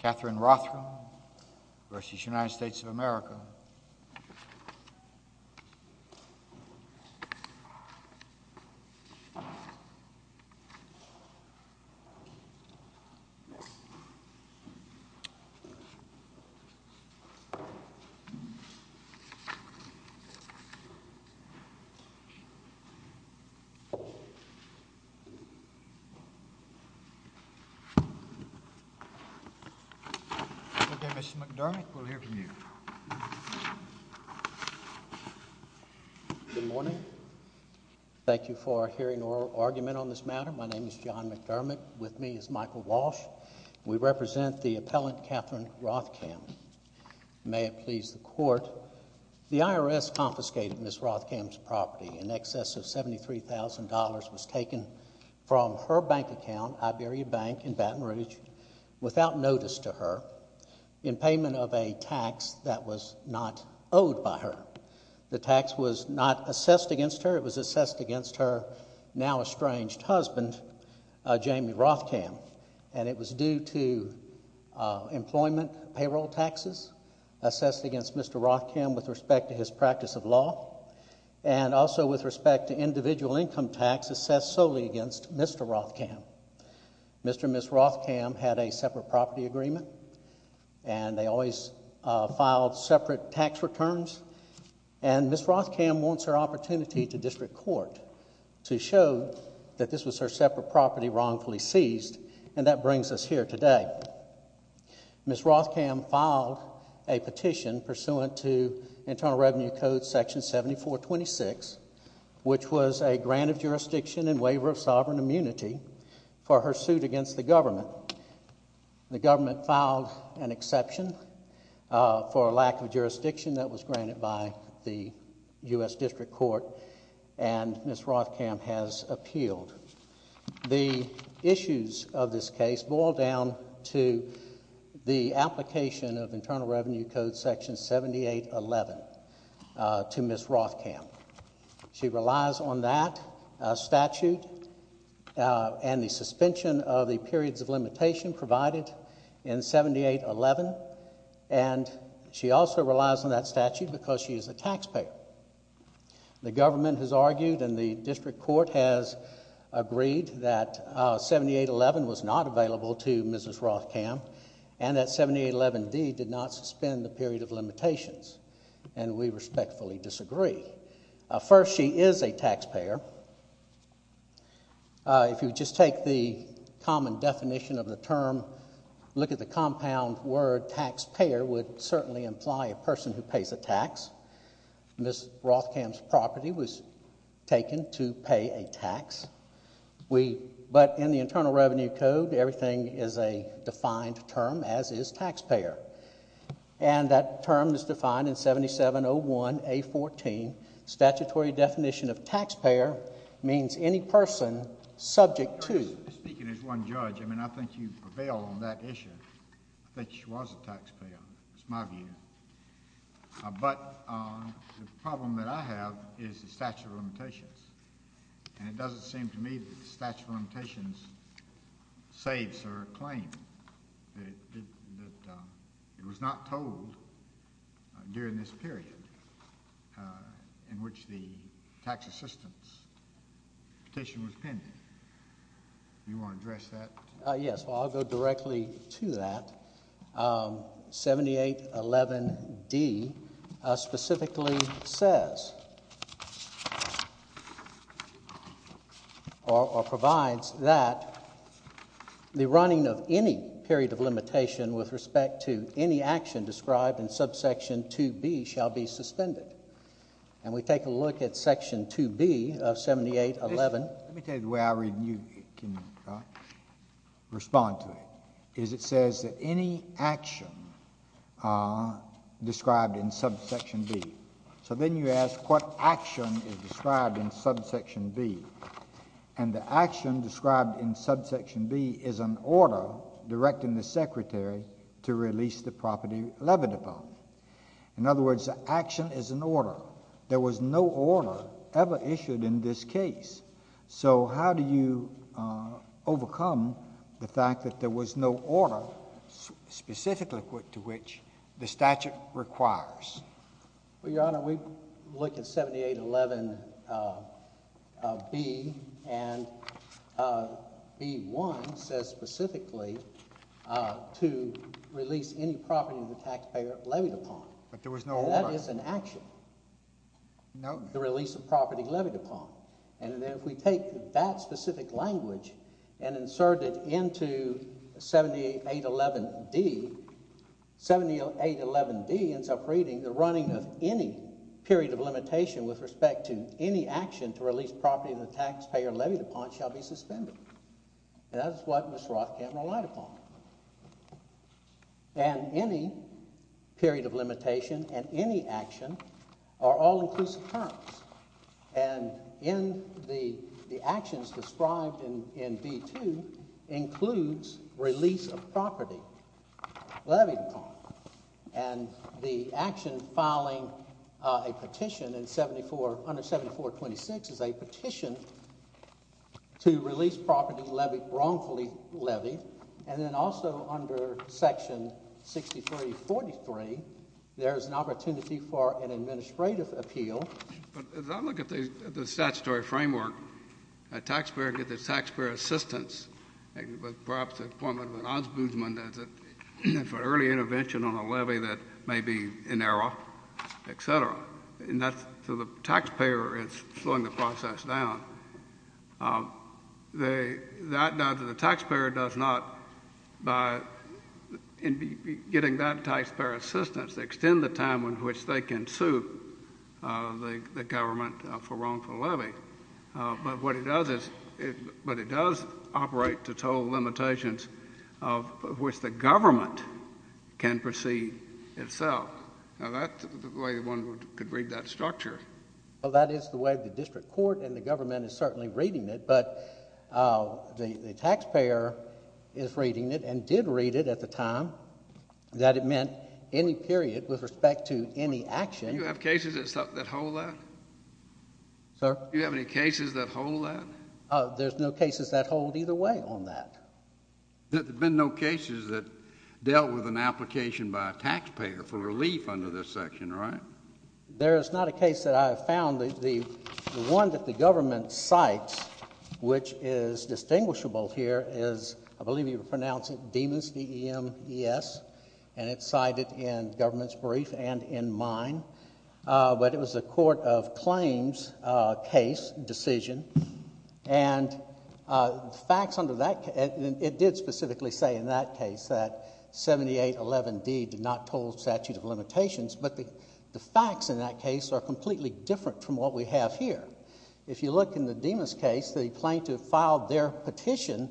Katherine Rothkamm v. United States of America John McDermott v. Michael Walsh v. Katherine Rothkamm May it please the Court, the IRS confiscated Ms. Rothkamm's property. In excess of $73,000 was taken from her bank account, Iberia Bank in Baton Rouge, without notice to her, in payment of a tax that was not owed by her. The tax was not assessed against her. It was assessed against her now estranged husband, Jamie Rothkamm, and it was due to employment payroll taxes assessed against Mr. Rothkamm with respect to his practice of law, and also with respect to individual income tax assessed solely against Mr. Rothkamm. Mr. and Ms. Rothkamm had a separate property agreement, and they always filed separate tax returns, and Ms. Rothkamm wants her opportunity to district court to show that this was her separate property wrongfully seized, and that brings us here today. Ms. Rothkamm filed a petition pursuant to Internal Revenue Code Section 7426, which was a grant of jurisdiction and waiver of sovereign immunity for her suit against the government. The government filed an exception for a lack of jurisdiction that was granted by the U.S. District Court, and Ms. Rothkamm has appealed. The issues of this case boil down to the application of Internal Revenue Code Section 7811 to Ms. Rothkamm. She relies on that statute and the suspension of the periods of limitation provided in 7811, and she also relies on that statute because she and the District Court has agreed that 7811 was not available to Ms. Rothkamm and that 7811D did not suspend the period of limitations, and we respectfully disagree. First, she is a taxpayer. If you would just take the common definition of the term, look at the compound word taxpayer would certainly imply a person who pays a tax. Ms. Rothkamm's property was to pay a tax, but in the Internal Revenue Code, everything is a defined term, as is taxpayer, and that term is defined in 7701A14. Statutory definition of taxpayer means any person subject to... Speaking as one judge, I mean, I think you prevail on that issue. I think she was a taxpayer. That's my view. But the problem that I have is the statute of limitations, and it doesn't seem to me that the statute of limitations saves her claim that it was not told during this period in which the tax assistance petition was penned. Do you want to address that? Yes. Well, I'll go directly to that. 7811D specifically says or provides that the running of any period of limitation with respect to any action described in subsection 2B shall be suspended. And we take a look at section 2B of 7811... Let me tell you the way I read and you can respond to it, is it says that any action described in subsection B... So then you ask what action is described in subsection B, and the action described in subsection B is an order directing the secretary to release the property levied upon. In other words, the action is an order. There was no order ever issued in this case. So how do you overcome the fact that there was no order specifically to which the statute requires? Well, Your Honor, we look at 7811B and B1 says specifically to release any property the taxpayer levied upon. But there was no order. And that is an action. No. The release of property levied upon. And if we take that specific language and insert it into 7811D, 7811D ends up reading the running of any period of limitation with respect to any action to release property the taxpayer levied upon shall be suspended. And that is what Ms. Roth can't rely upon. And any period of limitation and any action are all inclusive terms. And in the actions described in B2 includes release of property levied upon. And the action filing a petition under 7426 is a petition to release an opportunity for an administrative appeal. But as I look at the statutory framework, a taxpayer gets its taxpayer assistance with perhaps the appointment of an ombudsman for an early intervention on a levy that may be in error, et cetera. So the taxpayer is slowing the process down. That does, the taxpayer does not, by getting that taxpayer assistance, extend the time in which they can sue the government for wrongful levy. But what it does is, but it does operate to total limitations of which the government can proceed itself. Now, that's the way one could read that structure. Well, that is the way the district court and the government is certainly reading it. But the taxpayer is reading it and did read it at the time that it meant any period with respect to any action. Do you have cases that hold that? Sir? Do you have any cases that hold that? There's no cases that hold either way on that. There have been no cases that dealt with an application by a taxpayer for relief under this section, right? There is not a case that I have found. The one that the government cites, which is distinguishable here, is, I believe you would pronounce it Demes, D-E-M-E-S, and it's cited in government's brief and in mine. But it was a court of claims case, decision. And the facts under that, it did specifically say in that case that 7811D did not hold statute of limitations, but the facts in that case are completely different from what we have here. If you look in the Demes case, the plaintiff filed their petition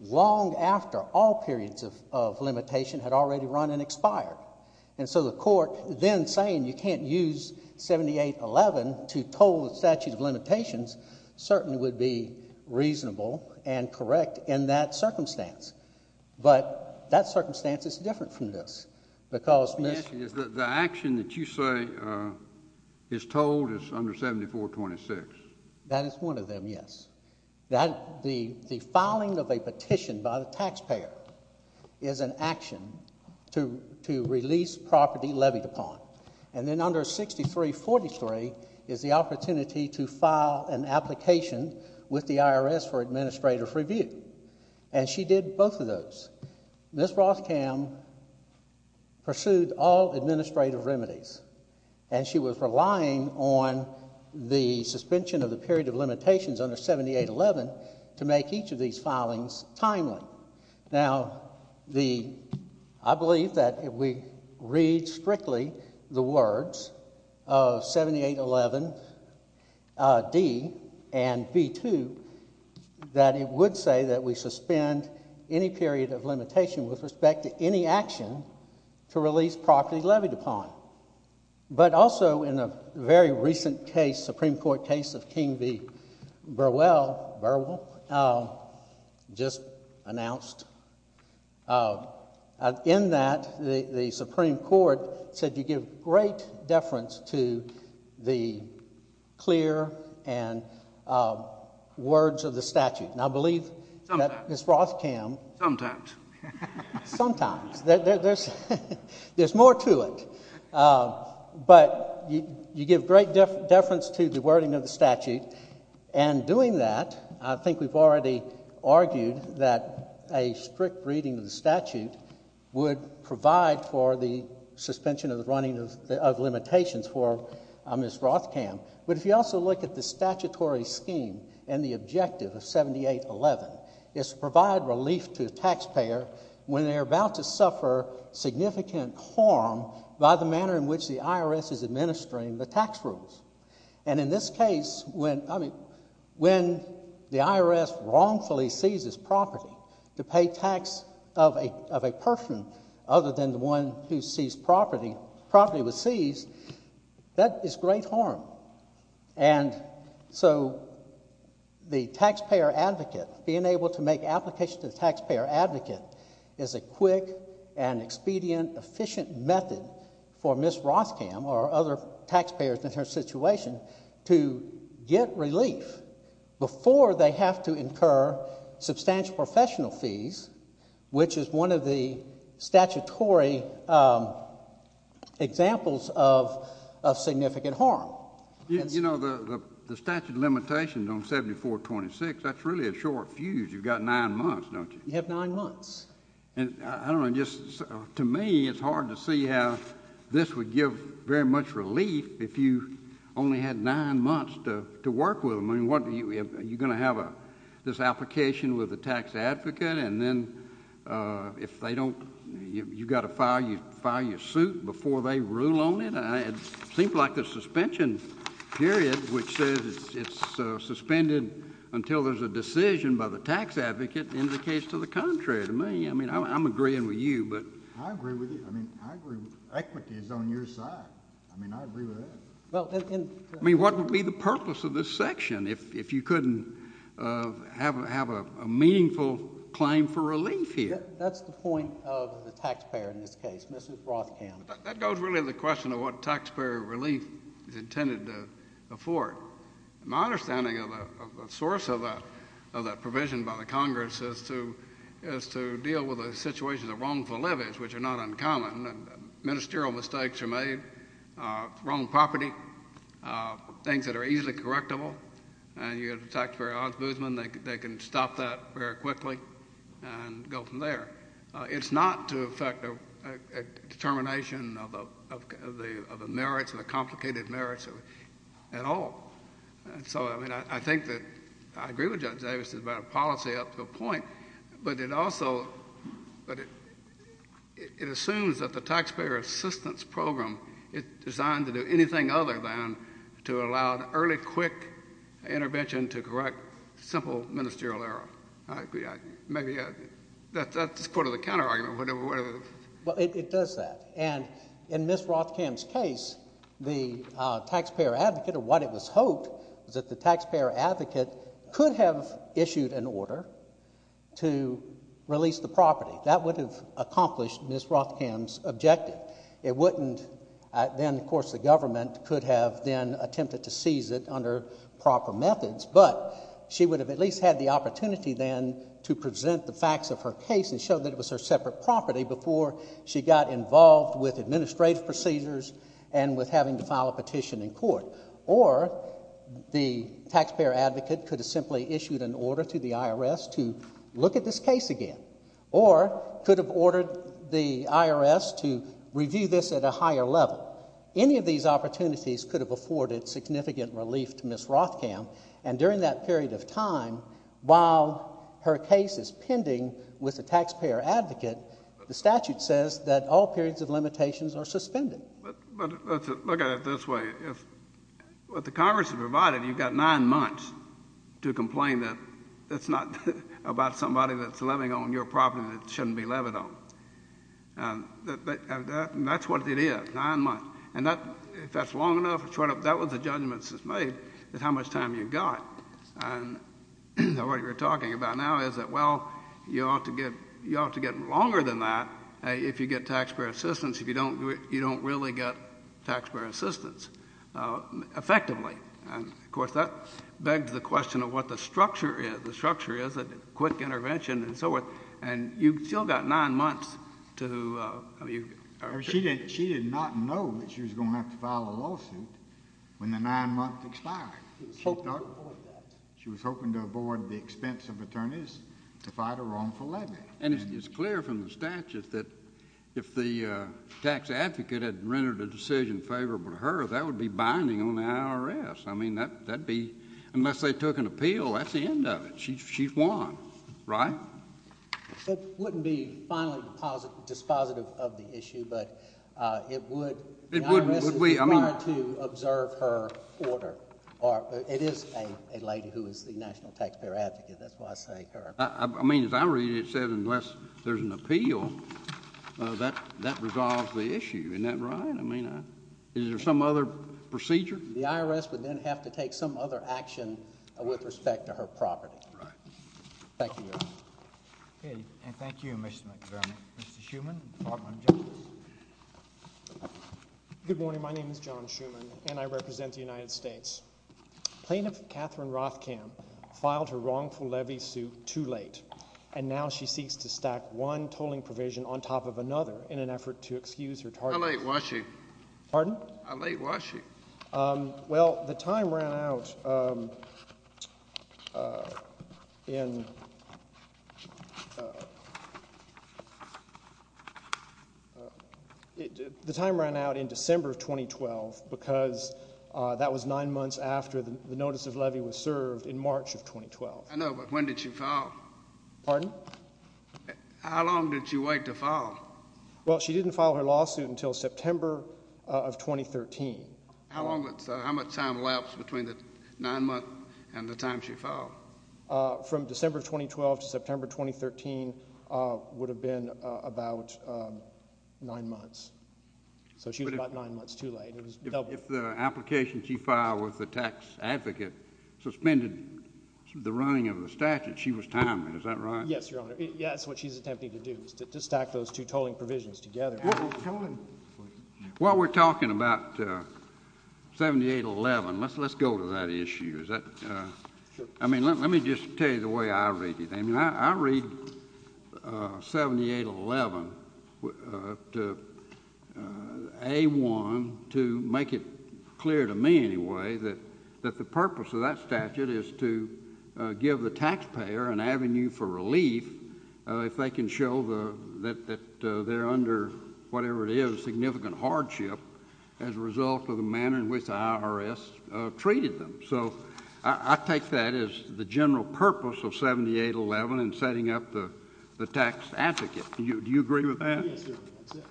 long after all periods of limitation had already run and expired. And so the court then saying you can't use 7811 to toll the statute of limitations certainly would be reasonable and correct in that The action that you say is tolled is under 7426. That is one of them, yes. The filing of a petition by the taxpayer is an action to release property levied upon. And then under 6343 is the opportunity to file an application with the IRS for administrative review. And she did both of those. Ms. Rothkam pursued all administrative remedies, and she was relying on the suspension of the period of limitations under 7811 to make each of these filings timely. Now, I believe that if we read strictly the words of 7811D and B2, that it would say that we suspend any period of limitation with respect to any action to release property levied upon. But also in a very recent case, Supreme Court case of King v. Burwell, just announced, in that the Supreme Court said you give great deference to the clear words of the statute. Sometimes. Sometimes. There's more to it. But you give great deference to the wording of the statute. And doing that, I think we've already argued that a strict reading of the statute would provide for the suspension of the running of limitations for Ms. Rothkam. But if you also look at the statutory scheme and the objective of 7811, it's to provide relief to the taxpayer when they're about to suffer significant harm by the manner in which the IRS is administering the tax rules. And in this case, when the IRS wrongfully seizes property to pay tax of a person other than the one who seized property, property was seized, that is great harm. And so the taxpayer advocate, being able to make application to the taxpayer advocate, is a quick and expedient, efficient method for Ms. Rothkam or other taxpayers in her situation to get relief before they have to incur substantial professional fees, which is one of the statutory examples of significant harm. You know, the statute of limitations on 7426, that's really a short fuse. You've got nine months, don't you? You have nine months. And I don't know, just to me, it's hard to see how this would give very much relief if you only had nine months to work with them. I mean, are you going to have this application with the tax advocate, and then if they don't, you've got to file your suit before they rule on it? It seems like the suspension period, which says it's suspended until there's a decision by the tax advocate, indicates to the contrary to me. I mean, I'm agreeing with you. I agree with you. I mean, I agree. Equity is on your side. I mean, I agree with that. I mean, what would be the purpose of this section if you couldn't have a meaningful claim for relief here? That's the point of the taxpayer in this case, Mrs. Rothkamp. That goes really to the question of what taxpayer relief is intended to afford. My understanding of the source of that provision by the Congress is to deal with a situation of wrongful levies, which are not uncommon, and ministerial mistakes are made, wrong property, things that are easily correctable, and you have the taxpayer, Oz Boozman, they can stop that very quickly and go from there. It's not to affect a determination of the merits or the complicated merits at all. So, I mean, I think that I agree with Judge Davis about a policy up to a point, but it also assumes that the Taxpayer Assistance Program is designed to do anything other than to allow early, quick intervention to correct simple ministerial error. Maybe that's part of the counterargument. Well, it does that, and in Ms. Rothkamp's case, the taxpayer advocate, or what it was hoped, was that the taxpayer advocate could have issued an order to release the property. That would have accomplished Ms. Rothkamp's objective. It wouldn't then, of course, the government could have then attempted to seize it under proper methods, but she would have at least had the opportunity then to present the facts of her case and show that it was her separate property before she got involved with administrative procedures and with having to file a petition in court. Or the taxpayer advocate could have simply issued an order to the IRS to look at this case again, or could have ordered the IRS to review this at a higher level. Any of these opportunities could have afforded significant relief to Ms. Rothkamp, and during that period of time, while her case is pending with the taxpayer advocate, the statute says that all periods of limitations are suspended. But look at it this way. With the Congress provided, you've got nine months to complain that it's not about somebody that's living on your property that shouldn't be living on. And that's what it is, nine months. And if that's long enough, that's what the judgment is made, is how much time you've got. And what we're talking about now is that, well, you ought to get longer than that if you get taxpayer assistance. If you don't, you don't really get taxpayer assistance effectively. And, of course, that begs the question of what the structure is. The structure is a quick intervention and so forth, and you've still got nine months to, I mean. She did not know that she was going to have to file a lawsuit when the nine months expired. She was hoping to avoid the expense of attorneys to fight a wrongful levy. And it's clear from the statute that if the tax advocate had rendered a decision favorable to her, that would be binding on the IRS. I mean, that would be, unless they took an appeal, that's the end of it. She's won, right? It wouldn't be finally dispositive of the issue, but it would. The IRS is required to observe her order. It is a lady who is the national taxpayer advocate. That's why I say her. I mean, as I read it, it says unless there's an appeal, that resolves the issue. Isn't that right? I mean, is there some other procedure? The IRS would then have to take some other action with respect to her property. All right. Thank you, Your Honor. Okay. And thank you, Mr. McFarland. Mr. Schuman, Department of Justice. Good morning. My name is John Schuman, and I represent the United States. Plaintiff Catherine Rothkamp filed her wrongful levy suit too late, and now she seeks to stack one tolling provision on top of another in an effort to excuse her target. How late was she? Pardon? How late was she? Well, the time ran out in December of 2012 because that was nine months after the notice of levy was served in March of 2012. I know, but when did she file? Pardon? Well, she didn't file her lawsuit until September of 2013. How much time lapsed between the nine months and the time she filed? From December of 2012 to September of 2013 would have been about nine months. So she was about nine months too late. If the application she filed with the tax advocate suspended the running of the statute, she was timing. Is that right? Yes, Your Honor. Yes, that's what she's attempting to do is to stack those two tolling provisions together. While we're talking about 7811, let's go to that issue. I mean, let me just tell you the way I read it. A-1 to make it clear to me anyway that the purpose of that statute is to give the taxpayer an avenue for relief if they can show that they're under whatever it is, significant hardship as a result of the manner in which the IRS treated them. So I take that as the general purpose of 7811 in setting up the tax advocate. Do you agree with that? Yes, Your Honor, that's it.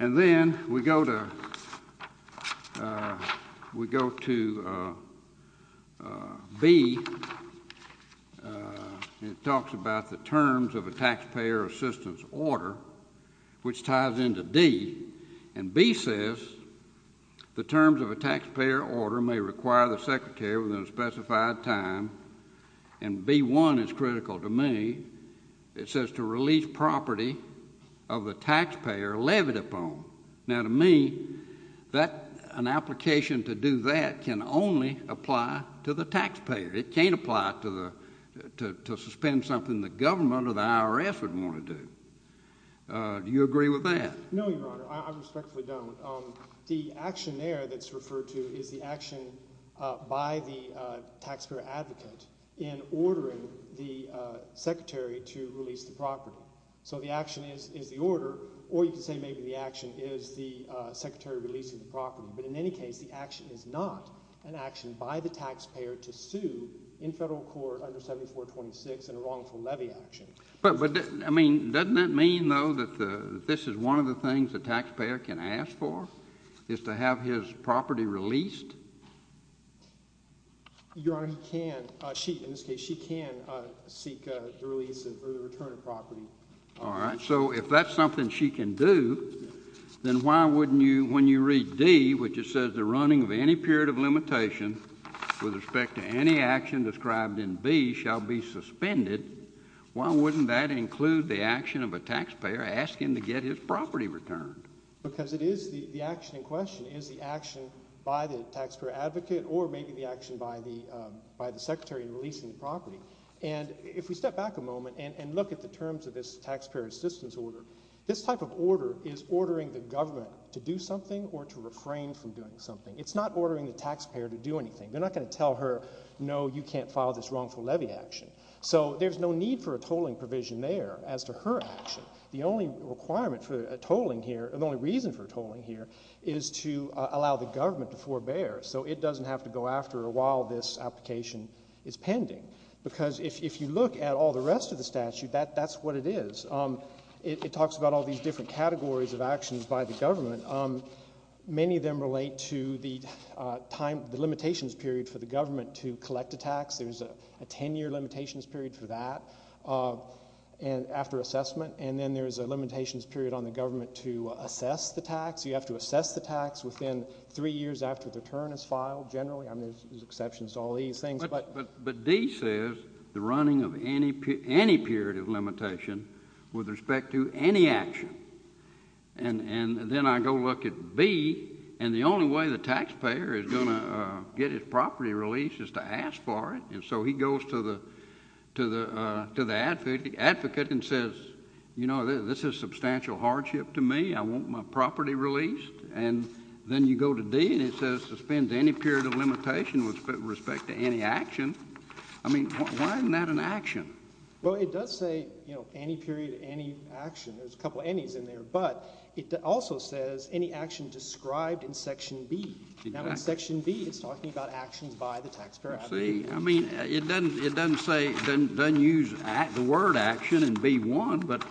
And then we go to B. It talks about the terms of a taxpayer assistance order, which ties into D. And B says the terms of a taxpayer order may require the secretary within a specified time. And B-1 is critical to me. It says to release property of the taxpayer levied upon. Now, to me, an application to do that can only apply to the taxpayer. It can't apply to suspend something the government or the IRS would want to do. Do you agree with that? No, Your Honor. I respectfully don't. The action there that's referred to is the action by the taxpayer advocate in ordering the secretary to release the property. So the action is the order, or you could say maybe the action is the secretary releasing the property. But in any case, the action is not an action by the taxpayer to sue in federal court under 7426 in a wrongful levy action. But, I mean, doesn't that mean, though, that this is one of the things the taxpayer can ask for is to have his property released? Your Honor, he can. She, in this case, she can seek the release or the return of property. All right. So if that's something she can do, then why wouldn't you, when you read D, which it says the running of any period of limitation with respect to any action described in B shall be suspended, why wouldn't that include the action of a taxpayer asking to get his property returned? Because it is the action in question is the action by the taxpayer advocate or maybe the action by the secretary in releasing the property. And if we step back a moment and look at the terms of this taxpayer assistance order, this type of order is ordering the government to do something or to refrain from doing something. It's not ordering the taxpayer to do anything. They're not going to tell her, no, you can't file this wrongful levy action. So there's no need for a tolling provision there as to her action. The only requirement for a tolling here, the only reason for a tolling here, is to allow the government to forbear. So it doesn't have to go after a while this application is pending. Because if you look at all the rest of the statute, that's what it is. It talks about all these different categories of actions by the government. Many of them relate to the limitations period for the government to collect a tax. There's a ten-year limitations period for that after assessment. And then there's a limitations period on the government to assess the tax. You have to assess the tax within three years after the return is filed generally. I mean there's exceptions to all these things. But D says the running of any period of limitation with respect to any action. And then I go look at B, and the only way the taxpayer is going to get his property released is to ask for it. And so he goes to the advocate and says, you know, this is a substantial hardship to me. I want my property released. And then you go to D and it says suspend any period of limitation with respect to any action. I mean why isn't that an action? Well, it does say, you know, any period of any action. There's a couple of anys in there. But it also says any action described in Section B. Now in Section B it's talking about actions by the taxpayer advocate. See, I mean it doesn't use the word action in B.1. But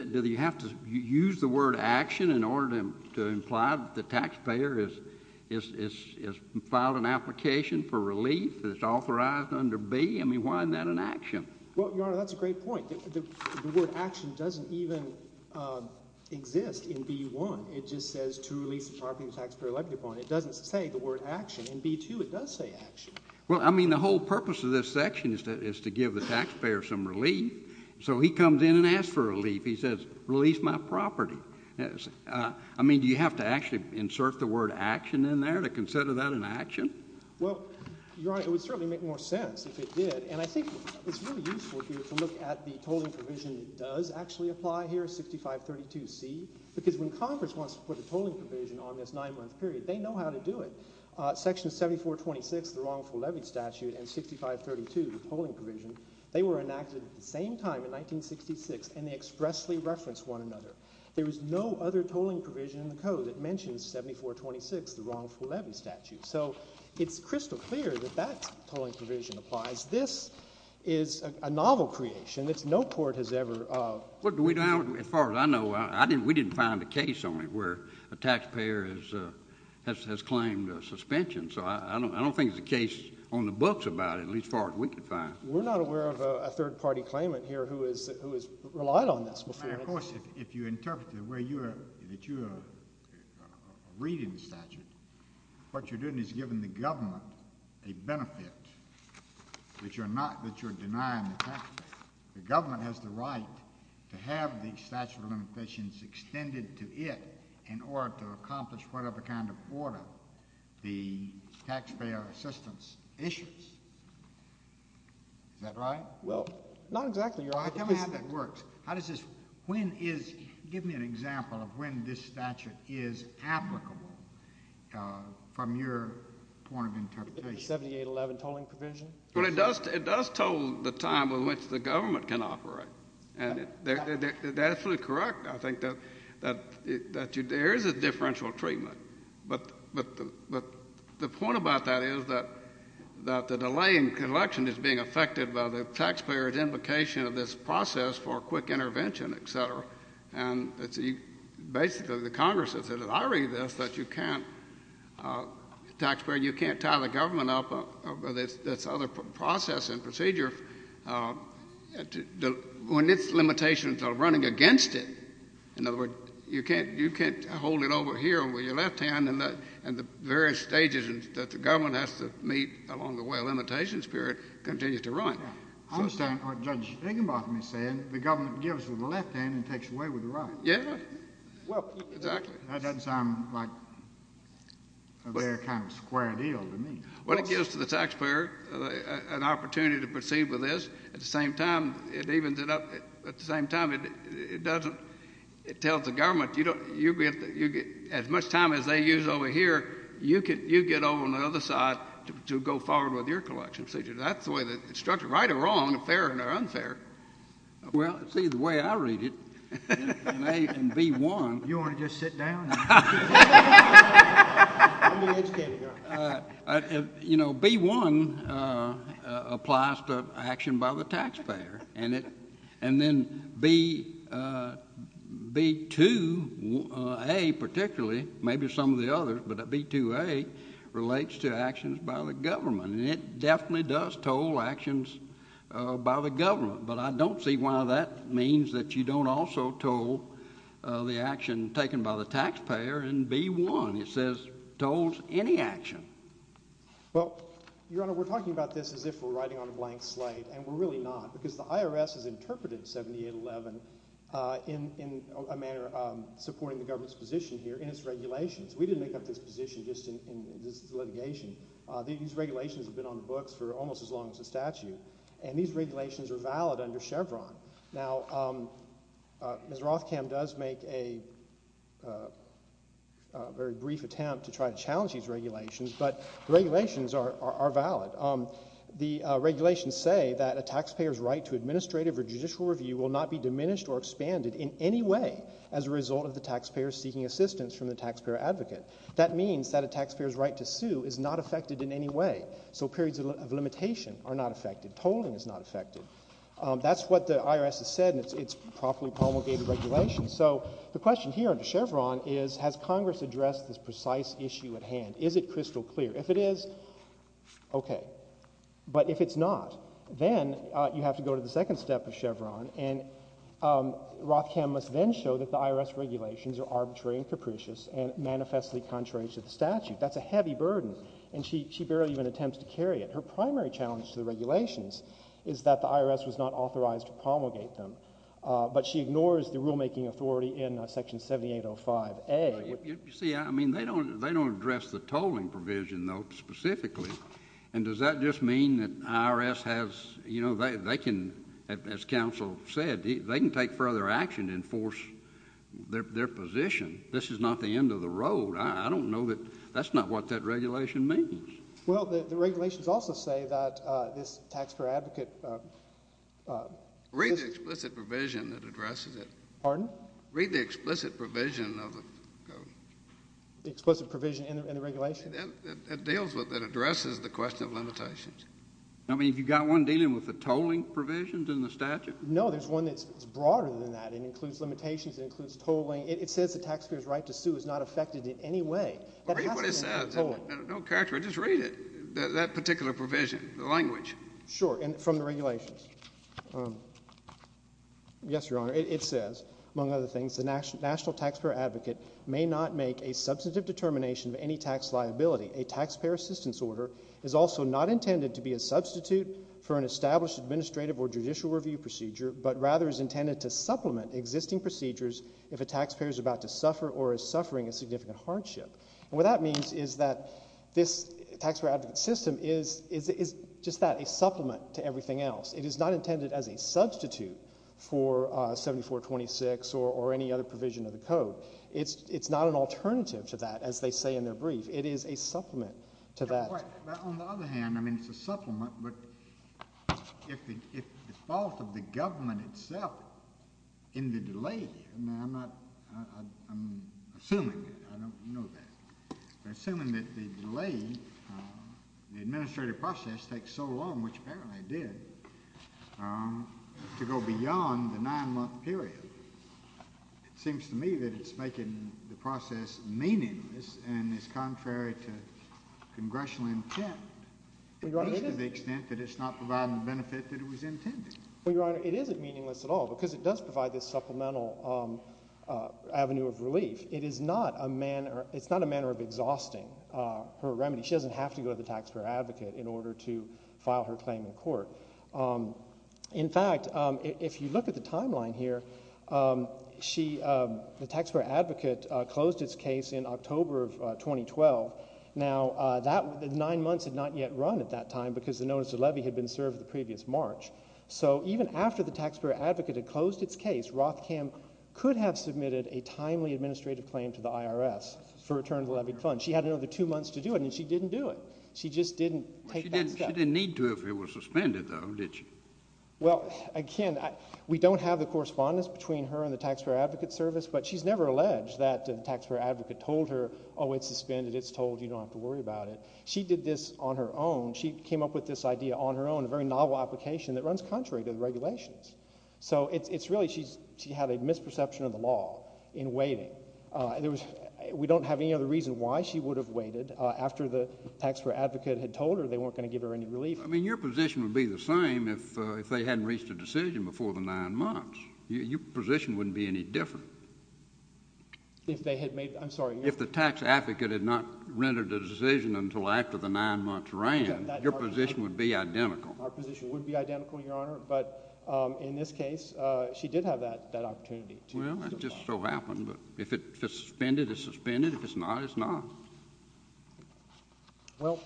do you have to use the word action in order to imply that the taxpayer has filed an application for relief, that it's authorized under B? I mean why isn't that an action? Well, Your Honor, that's a great point. The word action doesn't even exist in B.1. It just says to release the property the taxpayer elected upon. It doesn't say the word action. In B.2 it does say action. Well, I mean the whole purpose of this section is to give the taxpayer some relief. So he comes in and asks for relief. He says release my property. I mean do you have to actually insert the word action in there to consider that an action? Well, Your Honor, it would certainly make more sense if it did. And I think it's really useful here to look at the tolling provision that does actually apply here, 6532C, because when Congress wants to put a tolling provision on this nine-month period, they know how to do it. Section 7426, the wrongful levy statute, and 6532, the tolling provision, they were enacted at the same time in 1966, and they expressly reference one another. There is no other tolling provision in the code that mentions 7426, the wrongful levy statute. So it's crystal clear that that tolling provision applies. This is a novel creation that no court has ever ---- As far as I know, we didn't find a case on it where a taxpayer has claimed suspension. So I don't think there's a case on the books about it, at least as far as we can find. We're not aware of a third-party claimant here who has relied on this before. But, of course, if you interpret it the way that you are reading the statute, what you're doing is giving the government a benefit that you're denying the taxpayer. The government has the right to have the statute of limitations extended to it in order to accomplish whatever kind of order the taxpayer assistance issues. Is that right? Well, not exactly. I don't know how that works. How does this ---- Give me an example of when this statute is applicable from your point of interpretation. The 7811 tolling provision? Well, it does toll the time in which the government can operate. That's absolutely correct. I think that there is a differential treatment. But the point about that is that the delay in collection is being affected by the taxpayer's implication of this process for quick intervention, et cetera. And basically the Congress has said, I read this, that you can't, the taxpayer, you can't tie the government up with this other process and procedure when its limitations are running against it. In other words, you can't hold it over here with your left hand and the various stages that the government has to meet along the way, and the implementation period continues to run. I understand what Judge Higginbotham is saying. The government gives with the left hand and takes away with the right. Yes. Well, that doesn't sound like a very kind of square deal to me. Well, it gives to the taxpayer an opportunity to proceed with this. At the same time, it evens it up. At the same time, it tells the government, as much time as they use over here, you get over on the other side to go forward with your collection procedure. That's the way the structure, right or wrong, fair or unfair. Well, see, the way I read it, in A and B-1. You want to just sit down? You know, B-1 applies to action by the taxpayer, and then B-2A particularly, maybe some of the others, but B-2A relates to actions by the government, and it definitely does toll actions by the government, but I don't see why that means that you don't also toll the action taken by the taxpayer in B-1. It says tolls any action. Well, Your Honor, we're talking about this as if we're writing on a blank slate, and we're really not because the IRS has interpreted 7811 in a manner supporting the government's position here in its regulations. We didn't make up this position just in this litigation. These regulations have been on the books for almost as long as the statute, and these regulations are valid under Chevron. Now, Ms. Rothkam does make a very brief attempt to try to challenge these regulations, but the regulations are valid. The regulations say that a taxpayer's right to administrative or judicial review will not be diminished or expanded in any way as a result of the taxpayer seeking assistance from the taxpayer advocate. That means that a taxpayer's right to sue is not affected in any way, so periods of limitation are not affected. Tolling is not affected. That's what the IRS has said in its properly promulgated regulations. So the question here under Chevron is has Congress addressed this precise issue at hand? Is it crystal clear? If it is, okay, but if it's not, then you have to go to the second step of Chevron, and Rothkam must then show that the IRS regulations are arbitrary and capricious and manifestly contrary to the statute. That's a heavy burden, and she barely even attempts to carry it. Her primary challenge to the regulations is that the IRS was not authorized to promulgate them, but she ignores the rulemaking authority in Section 7805A. You see, I mean, they don't address the tolling provision, though, specifically, and does that just mean that the IRS has, you know, they can, as counsel said, they can take further action to enforce their position. This is not the end of the road. I don't know that that's not what that regulation means. Well, the regulations also say that this taxpayer advocate... Read the explicit provision that addresses it. Pardon? Read the explicit provision of the code. The explicit provision in the regulation? It deals with it. It addresses the question of limitations. I mean, have you got one dealing with the tolling provisions in the statute? No, there's one that's broader than that. It includes limitations. It includes tolling. It says the taxpayer's right to sue is not affected in any way. Read what it says. No character. Just read it, that particular provision, the language. Sure, and from the regulations. Yes, Your Honor, it says, among other things, the national taxpayer advocate may not make a substantive determination of any tax liability. A taxpayer assistance order is also not intended to be a substitute for an established administrative or judicial review procedure, but rather is intended to supplement existing procedures if a taxpayer is about to suffer or is suffering a significant hardship. And what that means is that this taxpayer advocate system is just that, a supplement to everything else. It is not intended as a substitute for 7426 or any other provision of the code. It's not an alternative to that, as they say in their brief. It is a supplement to that. On the other hand, I mean, it's a supplement, but if the fault of the government itself in the delay, I mean, I'm assuming, I don't know that, but assuming that the delay, the administrative process takes so long, which apparently it did, to go beyond the nine-month period, it seems to me that it's making the process meaningless and is contrary to congressional intent at least to the extent that it's not providing the benefit that it was intended. Well, Your Honor, it isn't meaningless at all because it does provide this supplemental avenue of relief. It is not a manner of exhausting her remedy. She doesn't have to go to the taxpayer advocate in order to file her claim in court. In fact, if you look at the timeline here, the taxpayer advocate closed its case in October of 2012. Now, nine months had not yet run at that time because the notice of levy had been served the previous March. So even after the taxpayer advocate had closed its case, Rothkam could have submitted a timely administrative claim to the IRS for return of the levy fund. She had another two months to do it, and she didn't do it. She just didn't take that step. She didn't need to if it was suspended, though, did she? Well, again, we don't have the correspondence between her and the taxpayer advocate service, but she's never alleged that the taxpayer advocate told her, oh, it's suspended, it's told, you don't have to worry about it. She did this on her own. She came up with this idea on her own, a very novel application, that runs contrary to the regulations. So it's really she had a misperception of the law in waiting. We don't have any other reason why she would have waited after the taxpayer advocate had told her they weren't going to give her any relief. I mean, your position would be the same if they hadn't reached a decision before the nine months. Your position wouldn't be any different. If they had made—I'm sorry. If the tax advocate had not rendered a decision until after the nine months ran, your position would be identical. Our position would be identical, Your Honor, but in this case she did have that opportunity. Well, it just so happened. If it's suspended, it's suspended. If it's not, it's not. Well,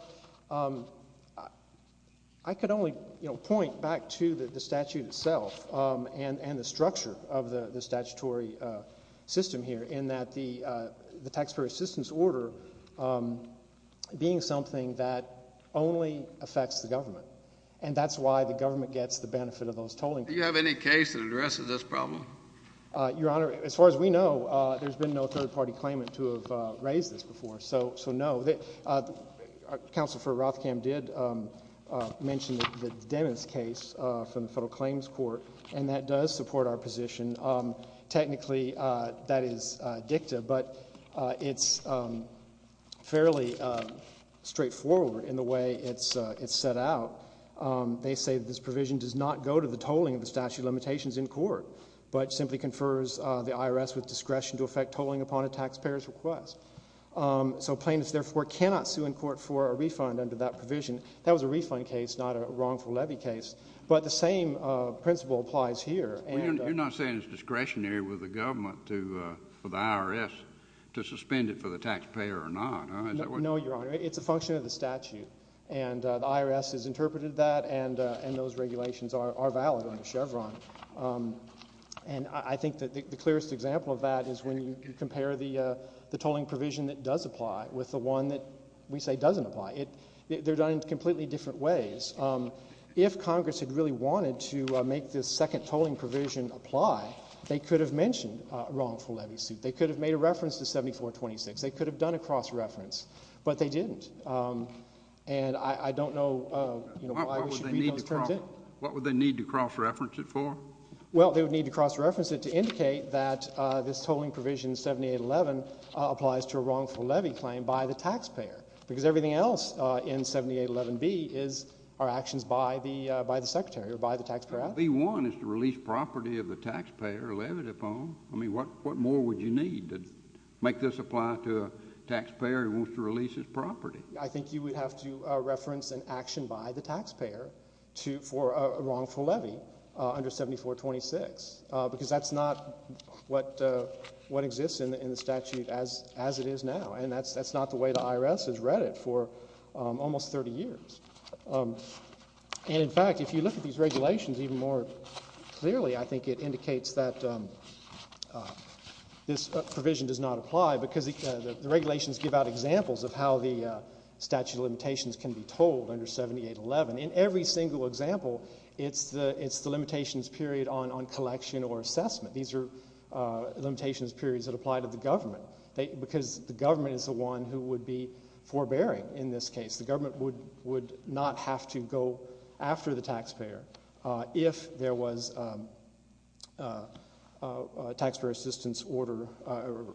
I could only point back to the statute itself and the structure of the statutory system here in that the taxpayer assistance order being something that only affects the government, and that's why the government gets the benefit of those tolling cards. Do you have any case that addresses this problem? Your Honor, as far as we know, there's been no third-party claimant to have raised this before, so no. Counsel for Rothkamp did mention the Dennis case from the Federal Claims Court, and that does support our position. Technically, that is dicta, but it's fairly straightforward in the way it's set out. They say this provision does not go to the tolling of the statute of limitations in court, but simply confers the IRS with discretion to effect tolling upon a taxpayer's request. So plaintiffs, therefore, cannot sue in court for a refund under that provision. That was a refund case, not a wrongful levy case, but the same principle applies here. You're not saying it's discretionary with the government for the IRS to suspend it for the taxpayer or not? No, Your Honor. It's a function of the statute, and the IRS has interpreted that and those regulations are valid under Chevron. And I think that the clearest example of that is when you compare the tolling provision that does apply with the one that we say doesn't apply. They're done in completely different ways. If Congress had really wanted to make this second tolling provision apply, they could have mentioned a wrongful levy suit. They could have made a reference to 7426. They could have done a cross-reference, but they didn't. And I don't know why we should read those terms in. What would they need to cross-reference it for? Well, they would need to cross-reference it to indicate that this tolling provision 7811 applies to a wrongful levy claim by the taxpayer because everything else in 7811B are actions by the Secretary or by the taxpayer. 81 is to release property of the taxpayer or levy it upon. I mean, what more would you need to make this apply to a taxpayer who wants to release his property? I think you would have to reference an action by the taxpayer for a wrongful levy under 7426 because that's not what exists in the statute as it is now, and that's not the way the IRS has read it for almost 30 years. And in fact, if you look at these regulations even more clearly, I think it indicates that this provision does not apply because the regulations give out examples of how the statute of limitations can be tolled under 7811. In every single example, it's the limitations period on collection or assessment. These are limitations periods that apply to the government because the government is the one who would be forbearing in this case. The government would not have to go after the taxpayer if there was a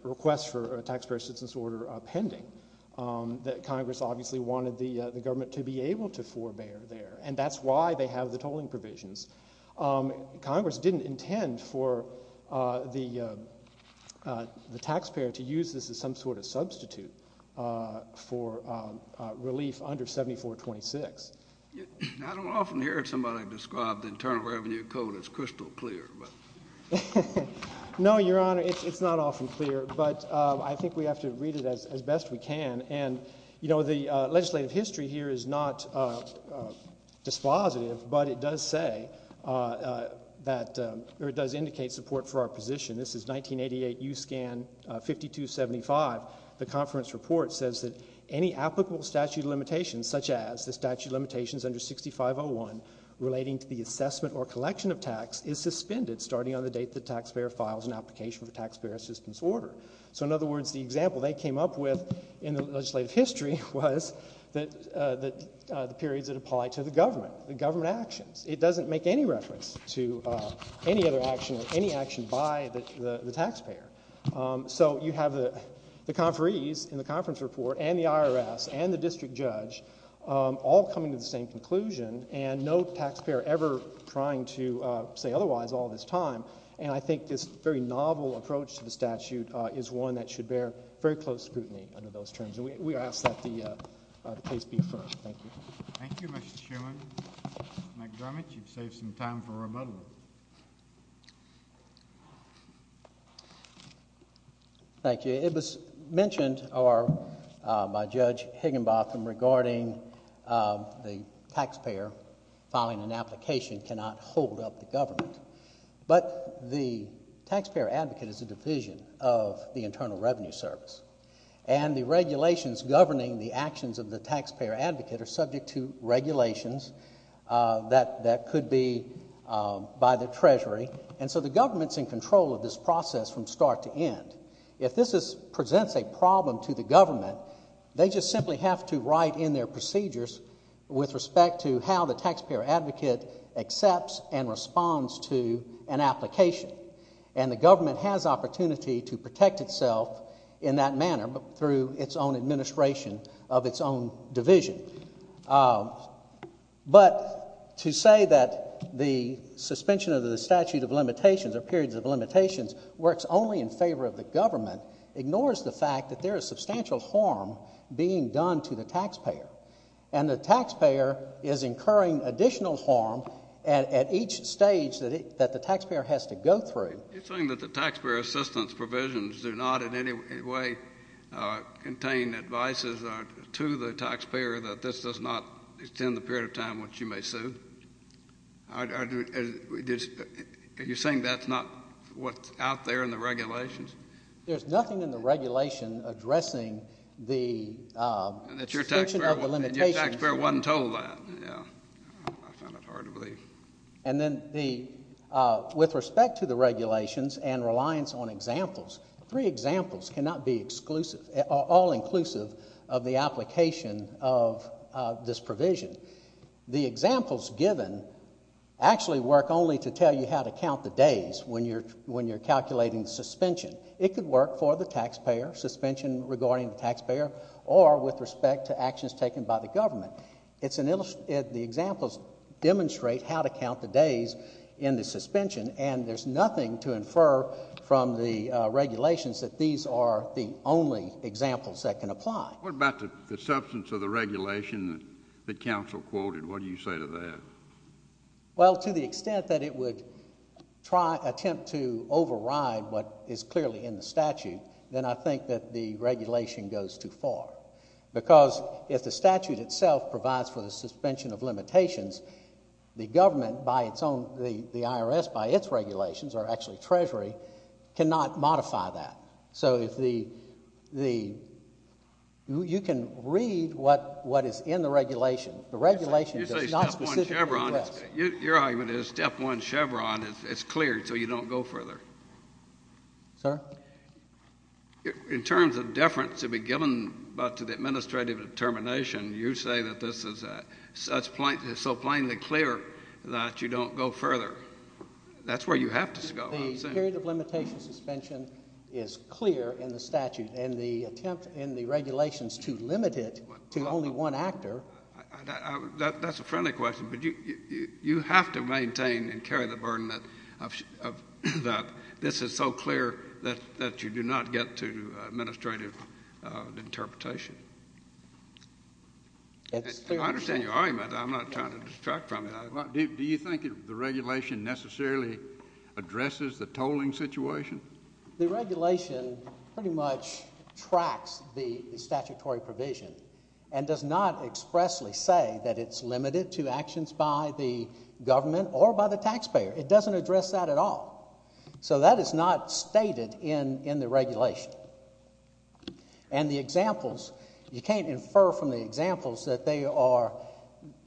request for a taxpayer assistance order pending. Congress obviously wanted the government to be able to forbear there, and that's why they have the tolling provisions. Congress didn't intend for the taxpayer to use this as some sort of substitute for relief under 7426. I don't often hear somebody describe the Internal Revenue Code as crystal clear. No, Your Honor, it's not often clear, but I think we have to read it as best we can. The legislative history here is not dispositive, but it does indicate support for our position. This is 1988 USCAN 5275. The conference report says that any applicable statute of limitations, such as the statute of limitations under 6501, relating to the assessment or collection of tax, is suspended starting on the date the taxpayer files an application for a taxpayer assistance order. So in other words, the example they came up with in the legislative history was the periods that apply to the government, the government actions. It doesn't make any reference to any other action or any action by the taxpayer. So you have the conferees in the conference report and the IRS and the district judge all coming to the same conclusion and no taxpayer ever trying to say otherwise all this time. And I think this very novel approach to the statute is one that should bear very close scrutiny under those terms, and we ask that the case be affirmed. Thank you. Thank you, Mr. Sherman. Mr. McDermott, you've saved some time for rebuttal. Thank you. It was mentioned by Judge Higginbotham regarding the taxpayer filing an application cannot hold up the government. But the taxpayer advocate is a division of the Internal Revenue Service, and the regulations governing the actions of the taxpayer advocate are subject to regulations that could be by the Treasury. And so the government's in control of this process from start to end. If this presents a problem to the government, they just simply have to write in their procedures with respect to how the taxpayer advocate accepts and responds to an application. And the government has opportunity to protect itself in that manner through its own administration of its own division. But to say that the suspension of the statute of limitations or periods of limitations works only in favor of the government ignores the fact that there is substantial harm being done to the taxpayer, and the taxpayer is incurring additional harm at each stage that the taxpayer has to go through. You're saying that the taxpayer assistance provisions do not in any way contain advices to the taxpayer that this does not extend the period of time which you may sue? Are you saying that's not what's out there in the regulations? There's nothing in the regulation addressing the suspension of the limitations. And your taxpayer wasn't told that. I found that hard to believe. And then with respect to the regulations and reliance on examples, three examples cannot be all-inclusive of the application of this provision. The examples given actually work only to tell you how to count the days when you're calculating suspension. It could work for the taxpayer, suspension regarding the taxpayer, or with respect to actions taken by the government. The examples demonstrate how to count the days in the suspension, and there's nothing to infer from the regulations that these are the only examples that can apply. What about the substance of the regulation that counsel quoted? What do you say to that? Well, to the extent that it would attempt to override what is clearly in the statute, then I think that the regulation goes too far, because if the statute itself provides for the suspension of limitations, the government by its own, the IRS by its regulations, or actually Treasury, cannot modify that. So you can read what is in the regulation. The regulation does not specifically request. Your argument is step one, Chevron, it's clear, so you don't go further. Sir? In terms of deference to be given to the administrative determination, you say that this is so plainly clear that you don't go further. That's where you have to go, I'm saying. The period of limitation suspension is clear in the statute, and the attempt in the regulations to limit it to only one actor. That's a friendly question, but you have to maintain and carry the burden that this is so clear that you do not get to administrative interpretation. I understand your argument. I'm not trying to distract from it. Do you think the regulation necessarily addresses the tolling situation? The regulation pretty much tracks the statutory provision and does not expressly say that it's limited to actions by the government or by the taxpayer. It doesn't address that at all. So that is not stated in the regulation. And the examples, you can't infer from the examples that they are,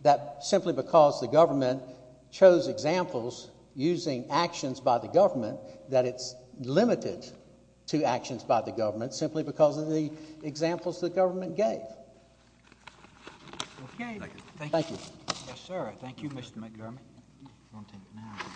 that simply because the government chose examples using actions by the government, that it's limited to actions by the government simply because of the examples the government gave. Okay. Thank you. Yes, sir. Thank you, Mr. McGarvey.